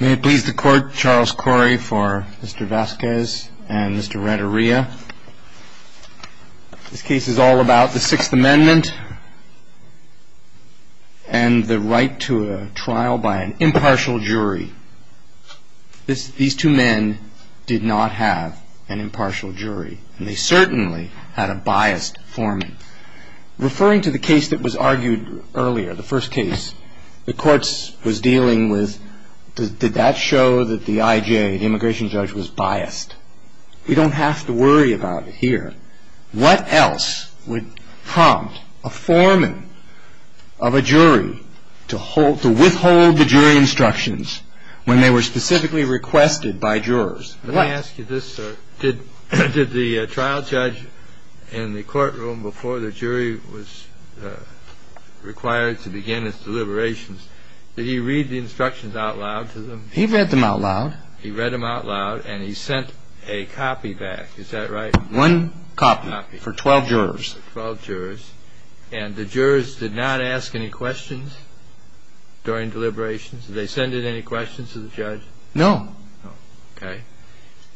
May it please the Court, Charles Corey for Mr. Vasquez and Mr. Renteria. This case is all about the Sixth Amendment and the right to a trial by an impartial jury. These two men did not have an impartial jury, and they certainly had a biased foreman. Referring to the case that was argued earlier, the first case, the courts was dealing with, did that show that the I.J., the immigration judge, was biased? We don't have to worry about it here. What else would prompt a foreman of a jury to withhold the jury instructions when they were specifically requested by jurors? Let me ask you this, sir. Did the trial judge in the courtroom before the jury was required to begin its deliberations, did he read the instructions out loud to them? He read them out loud. He read them out loud, and he sent a copy back. Is that right? One copy for 12 jurors. For 12 jurors. And the jurors did not ask any questions during deliberations? Did they send in any questions to the judge? No. Okay.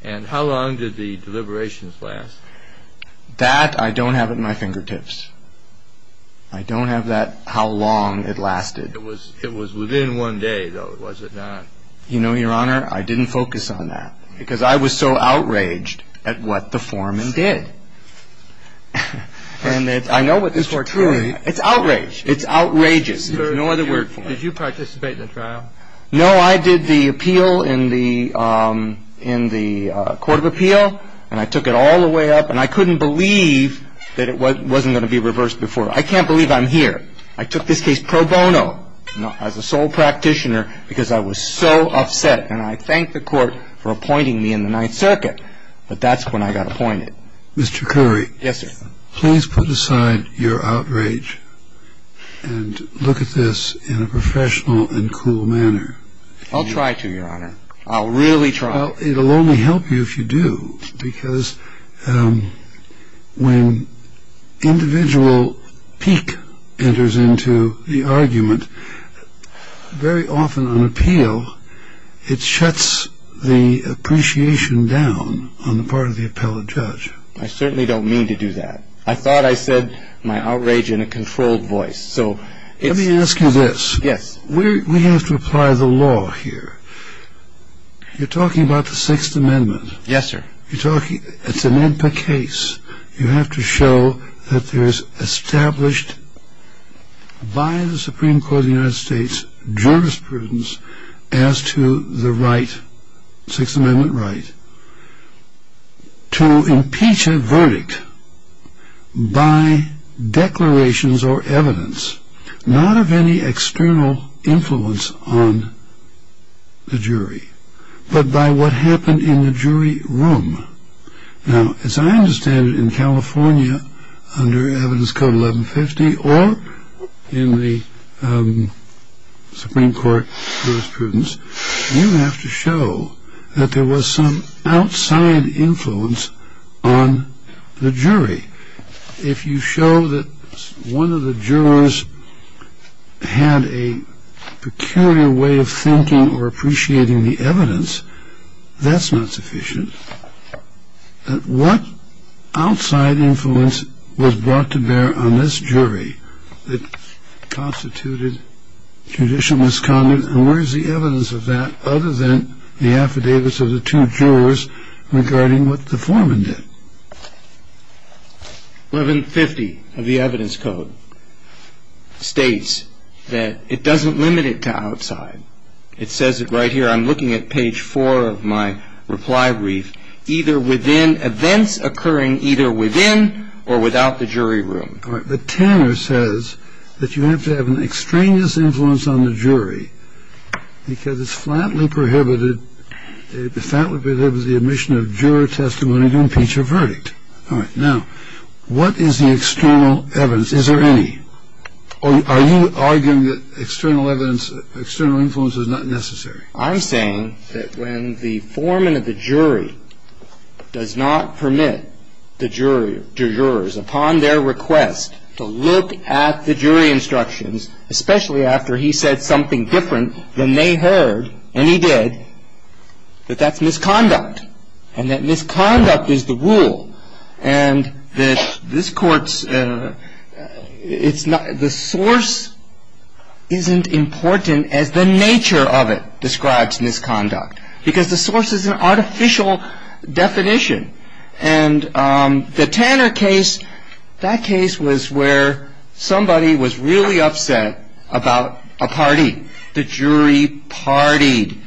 And how long did the deliberations last? That I don't have at my fingertips. I don't have that how long it lasted. It was within one day, though, was it not? You know, Your Honor, I didn't focus on that because I was so outraged at what the foreman did. And I know what this word means. It's outrage. It's outrageous. There's no other word for it. Did you participate in the trial? No, I did the appeal in the Court of Appeal, and I took it all the way up. And I couldn't believe that it wasn't going to be reversed before. I can't believe I'm here. I took this case pro bono, as a sole practitioner, because I was so upset. And I thanked the Court for appointing me in the Ninth Circuit, but that's when I got appointed. Mr. Curry. Yes, sir. Please put aside your outrage and look at this in a professional and cool manner. I'll try to, Your Honor. I'll really try. Well, it'll only help you if you do, because when individual pique enters into the argument, very often on appeal it shuts the appreciation down on the part of the appellate judge. I certainly don't mean to do that. I thought I said my outrage in a controlled voice. Let me ask you this. Yes. We have to apply the law here. You're talking about the Sixth Amendment. Yes, sir. You're talking, it's an MPA case. You have to show that there's established by the Supreme Court of the United States as to the right, Sixth Amendment right, to impeach a verdict by declarations or evidence, not of any external influence on the jury, but by what happened in the jury room. Now, as I understand it, in California under Evidence Code 1150 or in the Supreme Court jurisprudence, you have to show that there was some outside influence on the jury. If you show that one of the jurors had a peculiar way of thinking or appreciating the evidence, that's not sufficient. What outside influence was brought to bear on this jury that constituted judicial misconduct and where is the evidence of that other than the affidavits of the two jurors regarding what the foreman did? 1150 of the Evidence Code states that it doesn't limit it to outside. It says it right here. I'm looking at page four of my reply brief. Either within events occurring either within or without the jury room. All right. But Tanner says that you have to have an extraneous influence on the jury because it's flatly prohibited. It flatly prohibits the admission of juror testimony to impeach a verdict. All right. Now, what is the external evidence? Is there any? Are you arguing that external evidence, external influence is not necessary? I'm saying that when the foreman of the jury does not permit the jurors, upon their request, to look at the jury instructions, especially after he said something different than they heard, and he did, that that's misconduct and that misconduct is the rule. And that this court's, it's not, the source isn't important as the nature of it describes misconduct. Because the source is an artificial definition. And the Tanner case, that case was where somebody was really upset about a party. The jury partied.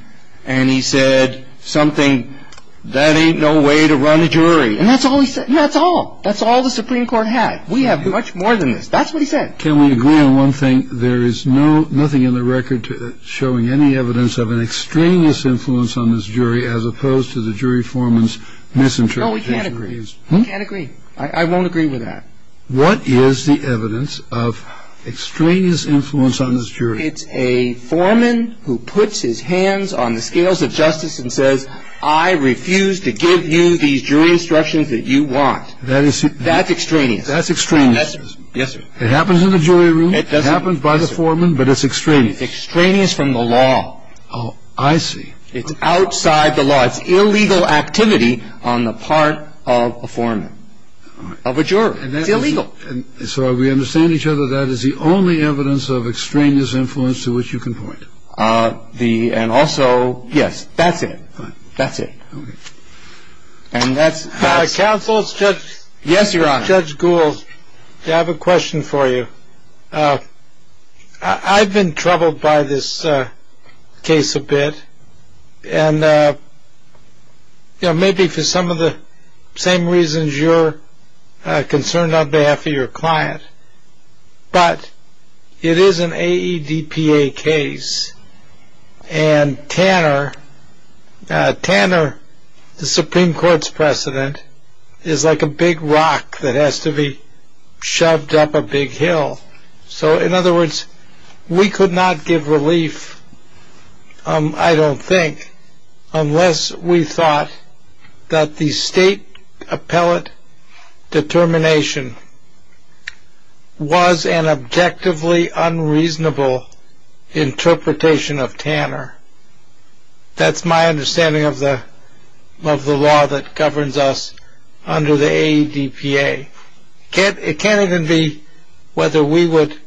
And he said something, that ain't no way to run a jury. And that's all he said. That's all. That's all the Supreme Court had. We have much more than this. That's what he said. Can we agree on one thing? There is no, nothing in the record showing any evidence of an extraneous influence on this jury as opposed to the jury foreman's misinterpretation. No, we can't agree. We can't agree. I won't agree with that. What is the evidence of extraneous influence on this jury? It's a foreman who puts his hands on the scales of justice and says, I refuse to give you these jury instructions that you want. That's extraneous. That's extraneous. Yes, sir. It happens in the jury room. It doesn't. It happens by the foreman, but it's extraneous. It's extraneous from the law. Oh, I see. It's outside the law. It's illegal activity on the part of a foreman, of a juror. It's illegal. So we understand each other. That is the only evidence of extraneous influence to which you can point. And also, yes, that's it. That's it. Counsel, it's Judge Gould. Yes, Your Honor. I have a question for you. I've been troubled by this case a bit, and maybe for some of the same reasons you're concerned on behalf of your client. But it is an AEDPA case, and Tanner, the Supreme Court's precedent, is like a big rock that has to be shoved up a big hill. So in other words, we could not give relief, I don't think, unless we thought that the state appellate determination was an objectively unreasonable interpretation of Tanner. That's my understanding of the law that governs us under the AEDPA. It can't even be whether we would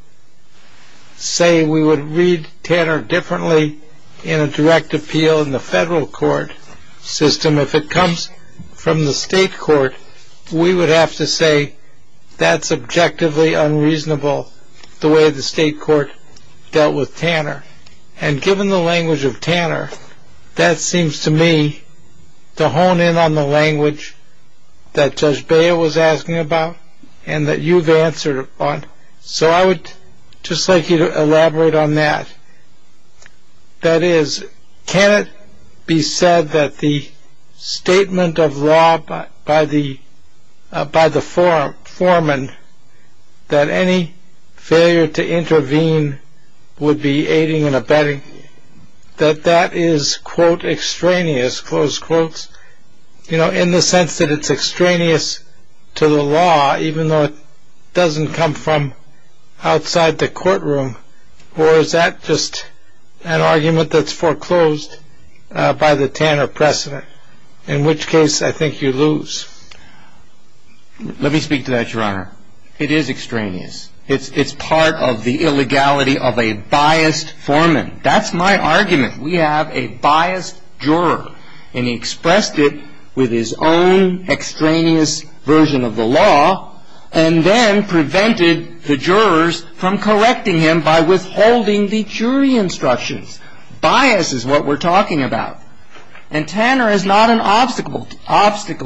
say we would read Tanner differently in a direct appeal in the federal court system. If it comes from the state court, we would have to say that's objectively unreasonable, the way the state court dealt with Tanner. And given the language of Tanner, that seems to me to hone in on the language that Judge Beyer was asking about and that you've answered on. So I would just like you to elaborate on that. That is, can it be said that the statement of law by the foreman that any failure to intervene would be aiding and abetting, that that is, quote, extraneous, close quotes, you know, in the sense that it's extraneous to the law, even though it doesn't come from outside the courtroom, or is that just an argument that's foreclosed by the Tanner precedent, in which case I think you lose? Let me speak to that, Your Honor. It is extraneous. It's part of the illegality of a biased foreman. That's my argument. We have a biased juror, and he expressed it with his own extraneous version of the law and then prevented the jurors from correcting him by withholding the jury instructions. Bias is what we're talking about. And Tanner is not an obstacle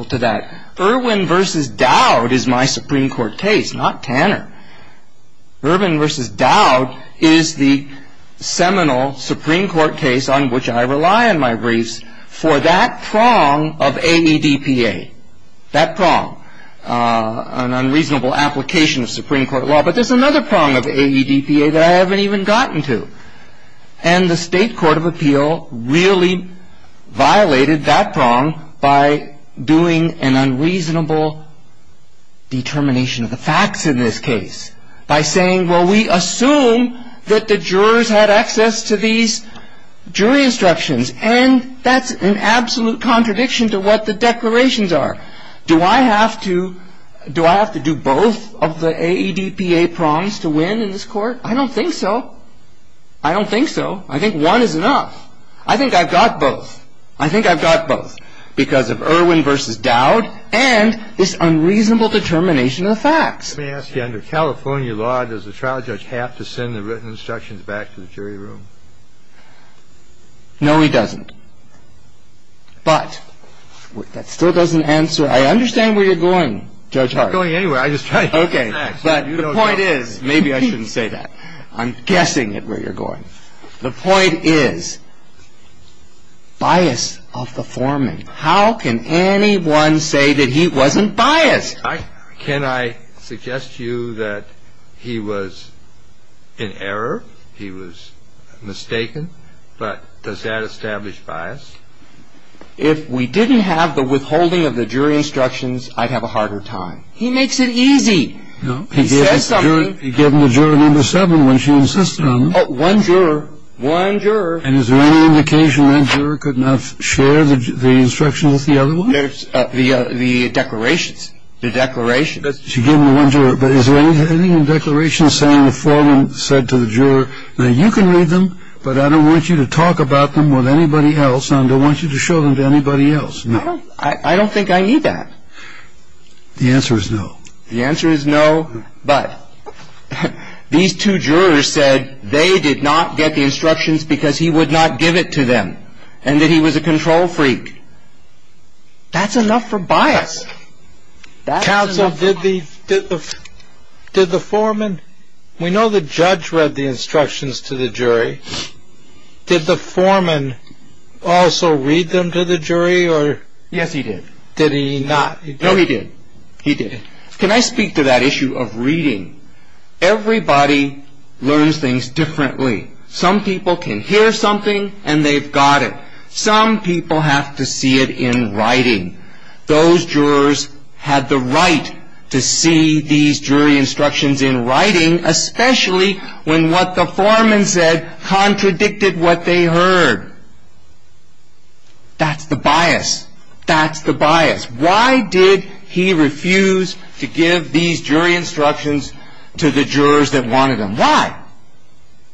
to that. Irwin v. Dowd is my Supreme Court case, not Tanner. Irwin v. Dowd is the seminal Supreme Court case on which I rely in my briefs for that prong of AEDPA, that prong, an unreasonable application of Supreme Court law. But there's another prong of AEDPA that I haven't even gotten to, and the State Court of Appeal really violated that prong by doing an unreasonable determination of the facts in this case, by saying, well, we assume that the jurors had access to these jury instructions, and that's an absolute contradiction to what the declarations are. Do I have to do both of the AEDPA prongs to win in this court? I don't think so. I don't think so. I think one is enough. I think I've got both. I think I've got both because of Irwin v. Dowd and this unreasonable determination of the facts. Let me ask you, under California law, does the trial judge have to send the written instructions back to the jury room? No, he doesn't. But that still doesn't answer – I understand where you're going, Judge Hart. I'm not going anywhere. Okay, but the point is – maybe I shouldn't say that. I'm guessing at where you're going. The point is bias of the foreman. How can anyone say that he wasn't biased? Can I suggest to you that he was in error, he was mistaken, but does that establish bias? If we didn't have the withholding of the jury instructions, I'd have a harder time. He makes it easy. No. He says something. He gave them to juror number seven when she insisted on them. One juror. One juror. And is there any indication that juror could not share the instructions with the other one? The declarations. The declarations. She gave them to one juror. But is there anything in the declarations saying the foreman said to the juror, now you can read them, but I don't want you to talk about them with anybody else and I don't want you to show them to anybody else. No. I don't think I need that. The answer is no. The answer is no, but these two jurors said they did not get the instructions because he would not give it to them and that he was a control freak. That's enough for bias. Counsel, did the foreman, we know the judge read the instructions to the jury. Did the foreman also read them to the jury or? Yes, he did. Did he not? No, he did. He did. Can I speak to that issue of reading? Everybody learns things differently. Some people can hear something and they've got it. Some people have to see it in writing. Those jurors had the right to see these jury instructions in writing, especially when what the foreman said contradicted what they heard. That's the bias. That's the bias. Why did he refuse to give these jury instructions to the jurors that wanted them? Why?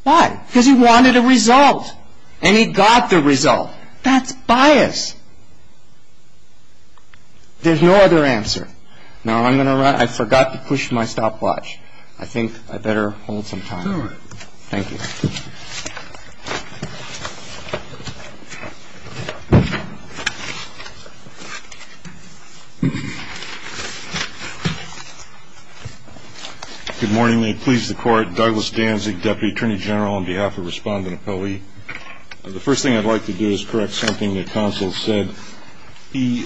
Why? Because he wanted a result and he got the result. That's bias. There's no other answer. Now, I'm going to run. I forgot to push my stopwatch. I think I better hold some time. All right. Thank you. Thank you. Good morning. May it please the Court. Douglas Danzig, Deputy Attorney General, on behalf of Respondent Appellee. The first thing I'd like to do is correct something the counsel said. He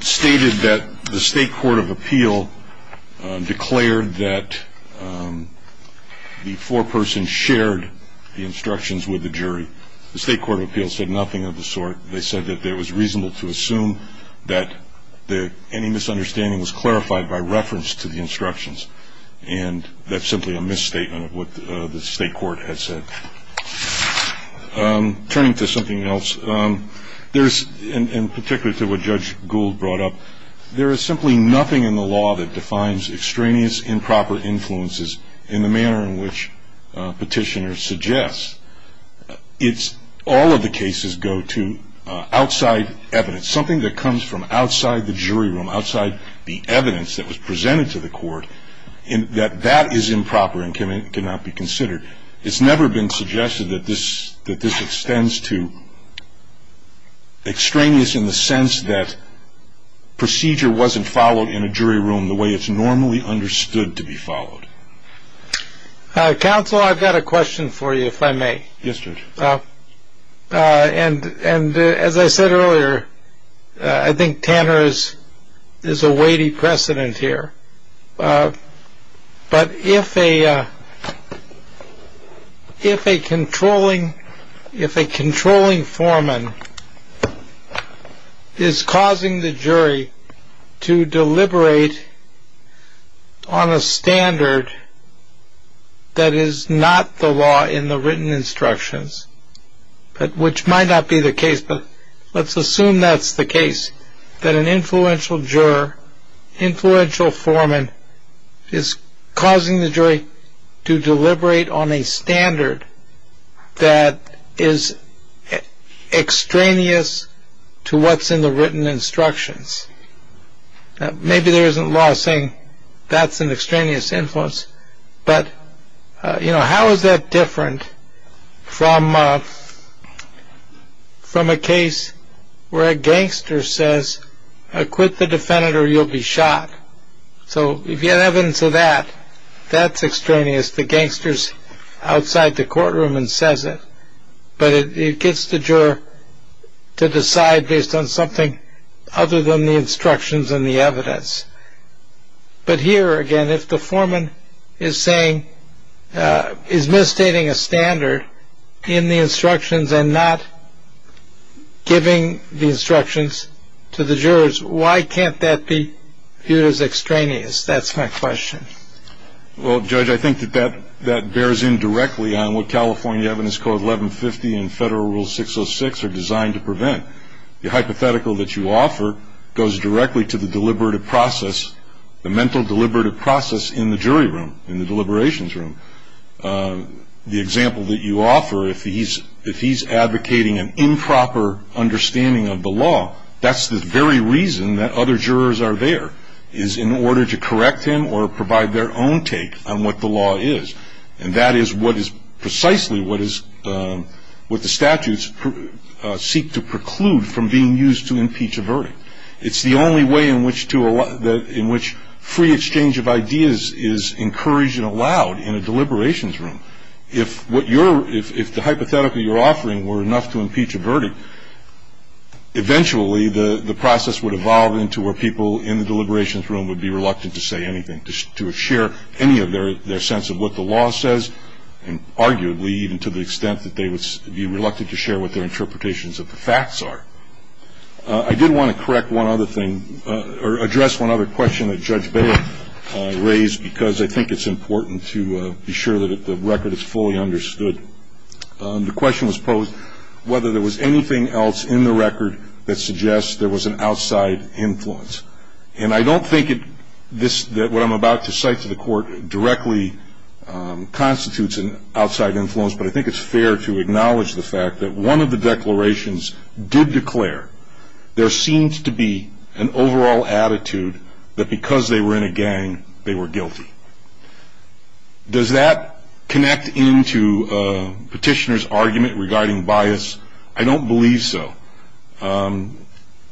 stated that the State Court of Appeal declared that the foreperson shared the instructions with the jury. The State Court of Appeal said nothing of the sort. They said that it was reasonable to assume that any misunderstanding was clarified by reference to the instructions, and that's simply a misstatement of what the State Court had said. Turning to something else, and particularly to what Judge Gould brought up, there is simply nothing in the law that defines extraneous improper influences in the manner in which petitioners suggest. All of the cases go to outside evidence, something that comes from outside the jury room, outside the evidence that was presented to the court, and that that is improper and cannot be considered. It's never been suggested that this extends to extraneous, in the sense that procedure wasn't followed in a jury room the way it's normally understood to be followed. Counsel, I've got a question for you, if I may. Yes, Judge. And as I said earlier, I think Tanner is a weighty precedent here. But if a controlling foreman is causing the jury to deliberate on a standard that is not the law in the written instructions, which might not be the case, but let's assume that's the case, that an influential juror, influential foreman, is causing the jury to deliberate on a standard that is extraneous to what's in the written instructions. Maybe there isn't law saying that's an extraneous influence, but how is that different from a case where a gangster says, quit the defendant or you'll be shot? So if you have evidence of that, that's extraneous. The gangster's outside the courtroom and says it, but it gets the juror to decide based on something other than the instructions and the evidence. But here, again, if the foreman is misstating a standard in the instructions and not giving the instructions to the jurors, why can't that be viewed as extraneous? That's my question. Well, Judge, I think that that bears in directly on what California Evidence Code 1150 The hypothetical that you offer goes directly to the deliberative process, the mental deliberative process in the jury room, in the deliberations room. The example that you offer, if he's advocating an improper understanding of the law, that's the very reason that other jurors are there, is in order to correct him or provide their own take on what the law is. And that is precisely what the statutes seek to preclude from being used to impeach a verdict. It's the only way in which free exchange of ideas is encouraged and allowed in a deliberations room. If the hypothetical you're offering were enough to impeach a verdict, eventually the process would evolve into where people in the deliberations room would be reluctant to say anything, to share any of their sense of what the law says, and arguably even to the extent that they would be reluctant to share what their interpretations of the facts are. I did want to correct one other thing, or address one other question that Judge Bailiff raised, because I think it's important to be sure that the record is fully understood. The question was posed whether there was anything else in the record that suggests there was an outside influence. And I don't think that what I'm about to cite to the court directly constitutes an outside influence, but I think it's fair to acknowledge the fact that one of the declarations did declare there seems to be an overall attitude that because they were in a gang, they were guilty. Does that connect into Petitioner's argument regarding bias? I don't believe so.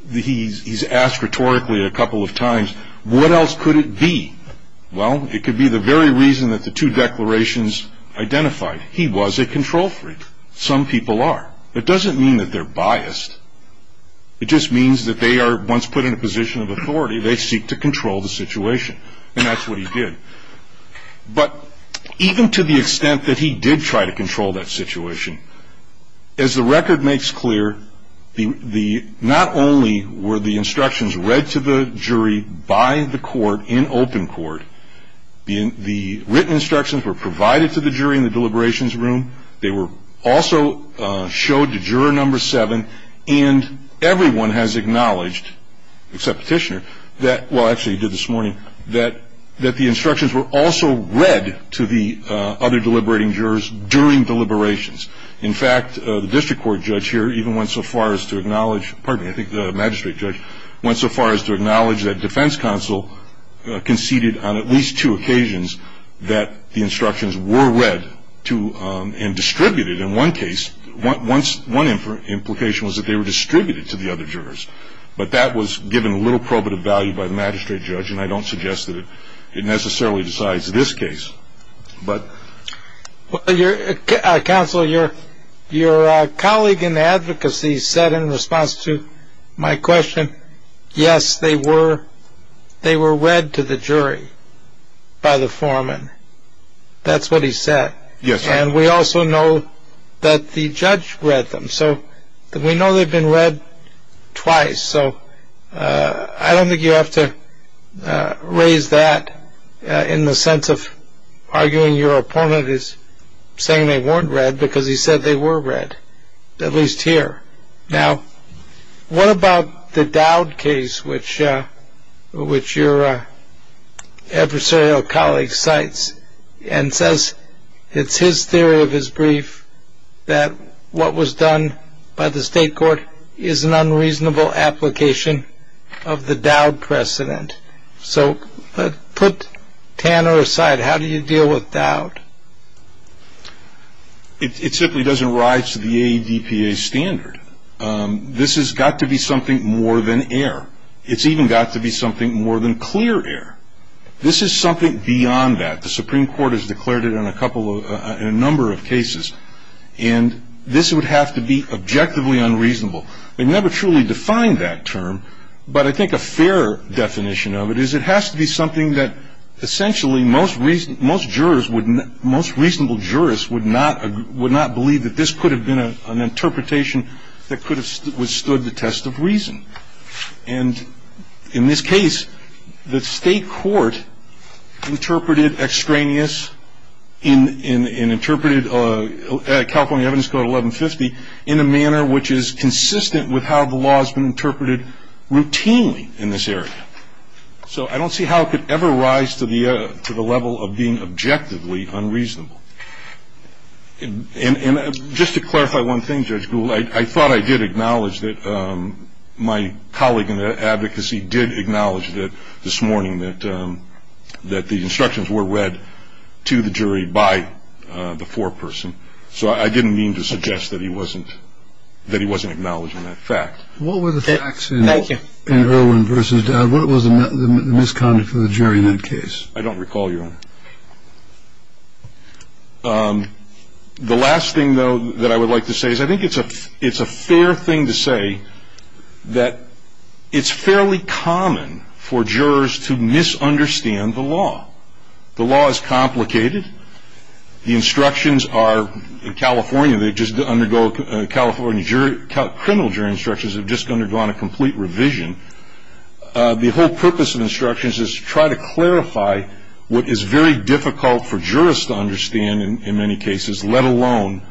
He's asked rhetorically a couple of times, what else could it be? Well, it could be the very reason that the two declarations identified. He was a control freak. Some people are. It doesn't mean that they're biased. It just means that they are, once put in a position of authority, they seek to control the situation. And that's what he did. But even to the extent that he did try to control that situation, as the record makes clear, not only were the instructions read to the jury by the court in open court, the written instructions were provided to the jury in the deliberations room. They were also showed to juror number seven, and everyone has acknowledged, except Petitioner, well, actually he did this morning, that the instructions were also read to the other deliberating jurors during deliberations. In fact, the district court judge here even went so far as to acknowledge, pardon me, I think the magistrate judge went so far as to acknowledge that defense counsel conceded on at least two occasions that the instructions were read and distributed. In one case, one implication was that they were distributed to the other jurors, but that was given little probative value by the magistrate judge, and I don't suggest that it necessarily decides this case. Counsel, your colleague in advocacy said in response to my question, yes, they were read to the jury by the foreman. That's what he said. Yes, sir. And we also know that the judge read them. So we know they've been read twice. So I don't think you have to raise that in the sense of arguing your opponent is saying they weren't read, because he said they were read, at least here. Now, what about the Dowd case, which your adversarial colleague cites and says it's his theory of his brief that what was done by the state court is an unreasonable application of the Dowd precedent. So put Tanner aside. How do you deal with Dowd? It simply doesn't rise to the ADPA standard. This has got to be something more than error. It's even got to be something more than clear error. This is something beyond that. The Supreme Court has declared it in a number of cases. And this would have to be objectively unreasonable. They never truly defined that term. But I think a fair definition of it is it has to be something that essentially most reasonable jurists would not believe that this could have been an interpretation that could have withstood the test of reason. And in this case, the state court interpreted extraneous and interpreted California Evidence Code 1150 in a manner which is consistent with how the law has been interpreted routinely in this area. So I don't see how it could ever rise to the level of being objectively unreasonable. And just to clarify one thing, Judge Gould, I thought I did acknowledge that my colleague in the advocacy did acknowledge this morning that the instructions were read to the jury by the foreperson. So I didn't mean to suggest that he wasn't acknowledging that fact. What were the facts in Erwin versus Dowd? What was the misconduct of the jury in that case? I don't recall, Your Honor. The last thing, though, that I would like to say is I think it's a fair thing to say that it's fairly common for jurors to misunderstand the law. The law is complicated. The instructions are in California. They just undergo a California criminal jury instructions have just undergone a complete revision. The whole purpose of instructions is to try to clarify what is very difficult for jurors to understand, in many cases, let alone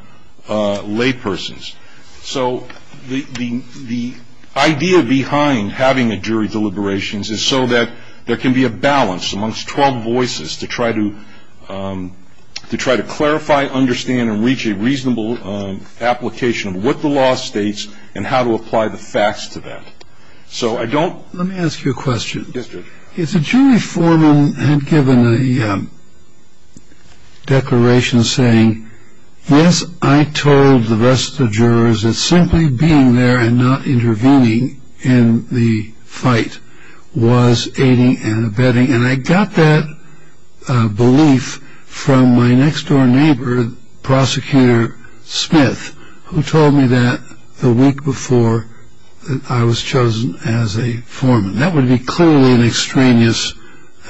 laypersons. So the idea behind having a jury deliberations is so that there can be a balance amongst 12 voices to try to clarify, understand, and reach a reasonable application of what the law states and how to apply the facts to that. Let me ask you a question. The jury foreman had given a declaration saying, yes, I told the rest of the jurors that simply being there and not intervening in the fight was aiding and abetting. And I got that belief from my next-door neighbor, Prosecutor Smith, who told me that the week before that I was chosen as a foreman. That would be clearly an extraneous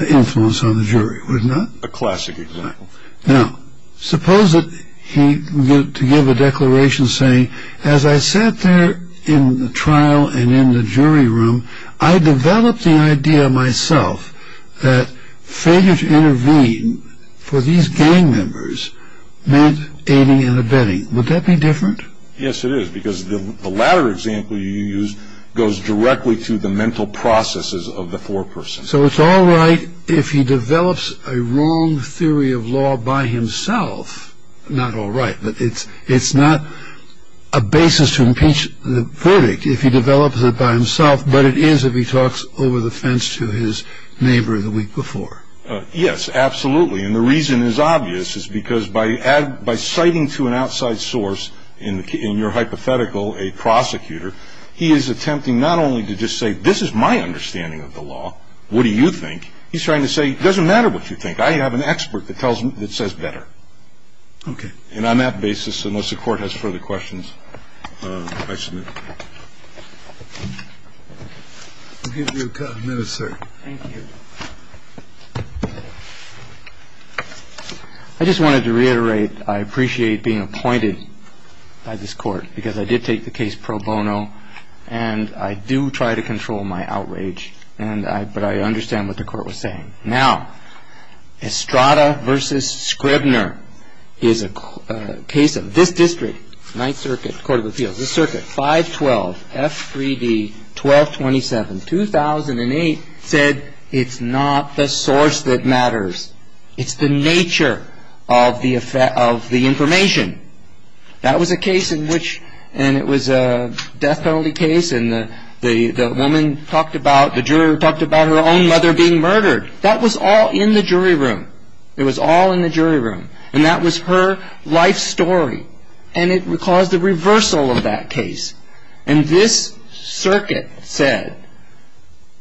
influence on the jury, wouldn't it? A classic example. Now, suppose that he were to give a declaration saying, as I sat there in the trial and in the jury room, I developed the idea myself that failure to intervene for these gang members meant aiding and abetting. Would that be different? Yes, it is. Because the latter example you used goes directly to the mental processes of the foreperson. So it's all right if he develops a wrong theory of law by himself. Not all right. But it's not a basis to impeach the verdict if he develops it by himself, but it is if he talks over the fence to his neighbor the week before. Yes, absolutely. And the reason is obvious, is because by citing to an outside source, in your hypothetical, a prosecutor, he is attempting not only to just say, this is my understanding of the law, what do you think? He's trying to say, it doesn't matter what you think. I have an expert that says better. Okay. And on that basis, unless the Court has further questions, I submit. We'll give you a minute, sir. Thank you. I just wanted to reiterate, I appreciate being appointed by this Court, because I did take the case pro bono, and I do try to control my outrage, but I understand what the Court was saying. Now, Estrada v. Scribner is a case of this district, Ninth Circuit Court of Appeals, the circuit, 512 F3D 1227, 2008, said it's not the source that matters. It's the nature of the information. That was a case in which, and it was a death penalty case, and the woman talked about, the juror talked about her own mother being murdered. That was all in the jury room. It was all in the jury room. And that was her life story. And it caused a reversal of that case. And this circuit said,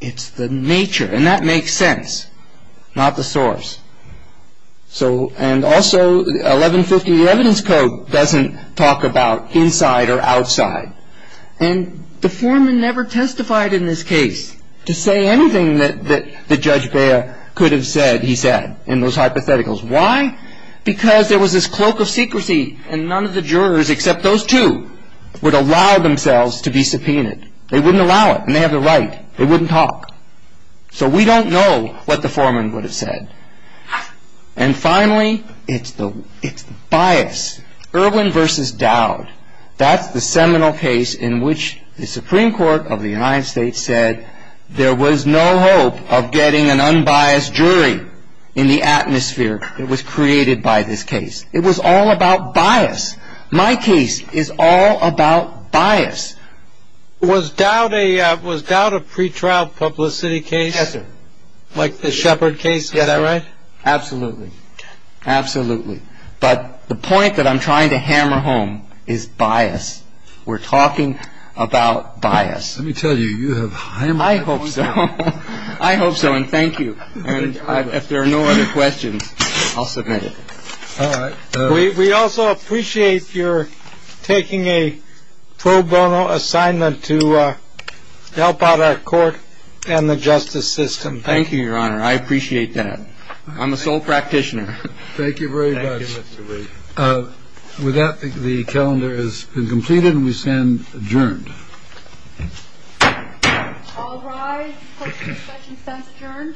it's the nature, and that makes sense, not the source. So, and also 1150, the evidence code doesn't talk about inside or outside. And the foreman never testified in this case to say anything that Judge Beyer could have said, he said, in those hypotheticals. Why? Because there was this cloak of secrecy, and none of the jurors, except those two, would allow themselves to be subpoenaed. They wouldn't allow it, and they have the right. They wouldn't talk. So we don't know what the foreman would have said. And finally, it's the bias. Irwin v. Dowd, that's the seminal case in which the Supreme Court of the United States said, there was no hope of getting an unbiased jury in the atmosphere that was created by this case. It was all about bias. My case is all about bias. Was Dowd a pretrial publicity case? Yes, sir. Like the Shepard case? Yes, sir. Is that right? Absolutely. Absolutely. But the point that I'm trying to hammer home is bias. We're talking about bias. Let me tell you, you have high moral standards. I hope so. I hope so and thank you. And if there are no other questions, I'll submit it. All right. We also appreciate your taking a pro bono assignment to help out our court and the justice system. Thank you, Your Honor. I appreciate that. I'm a sole practitioner. Thank you very much. Thank you, Mr. Reed. With that, the calendar has been completed and we stand adjourned. All rise. Questions, questions, sentence adjourned.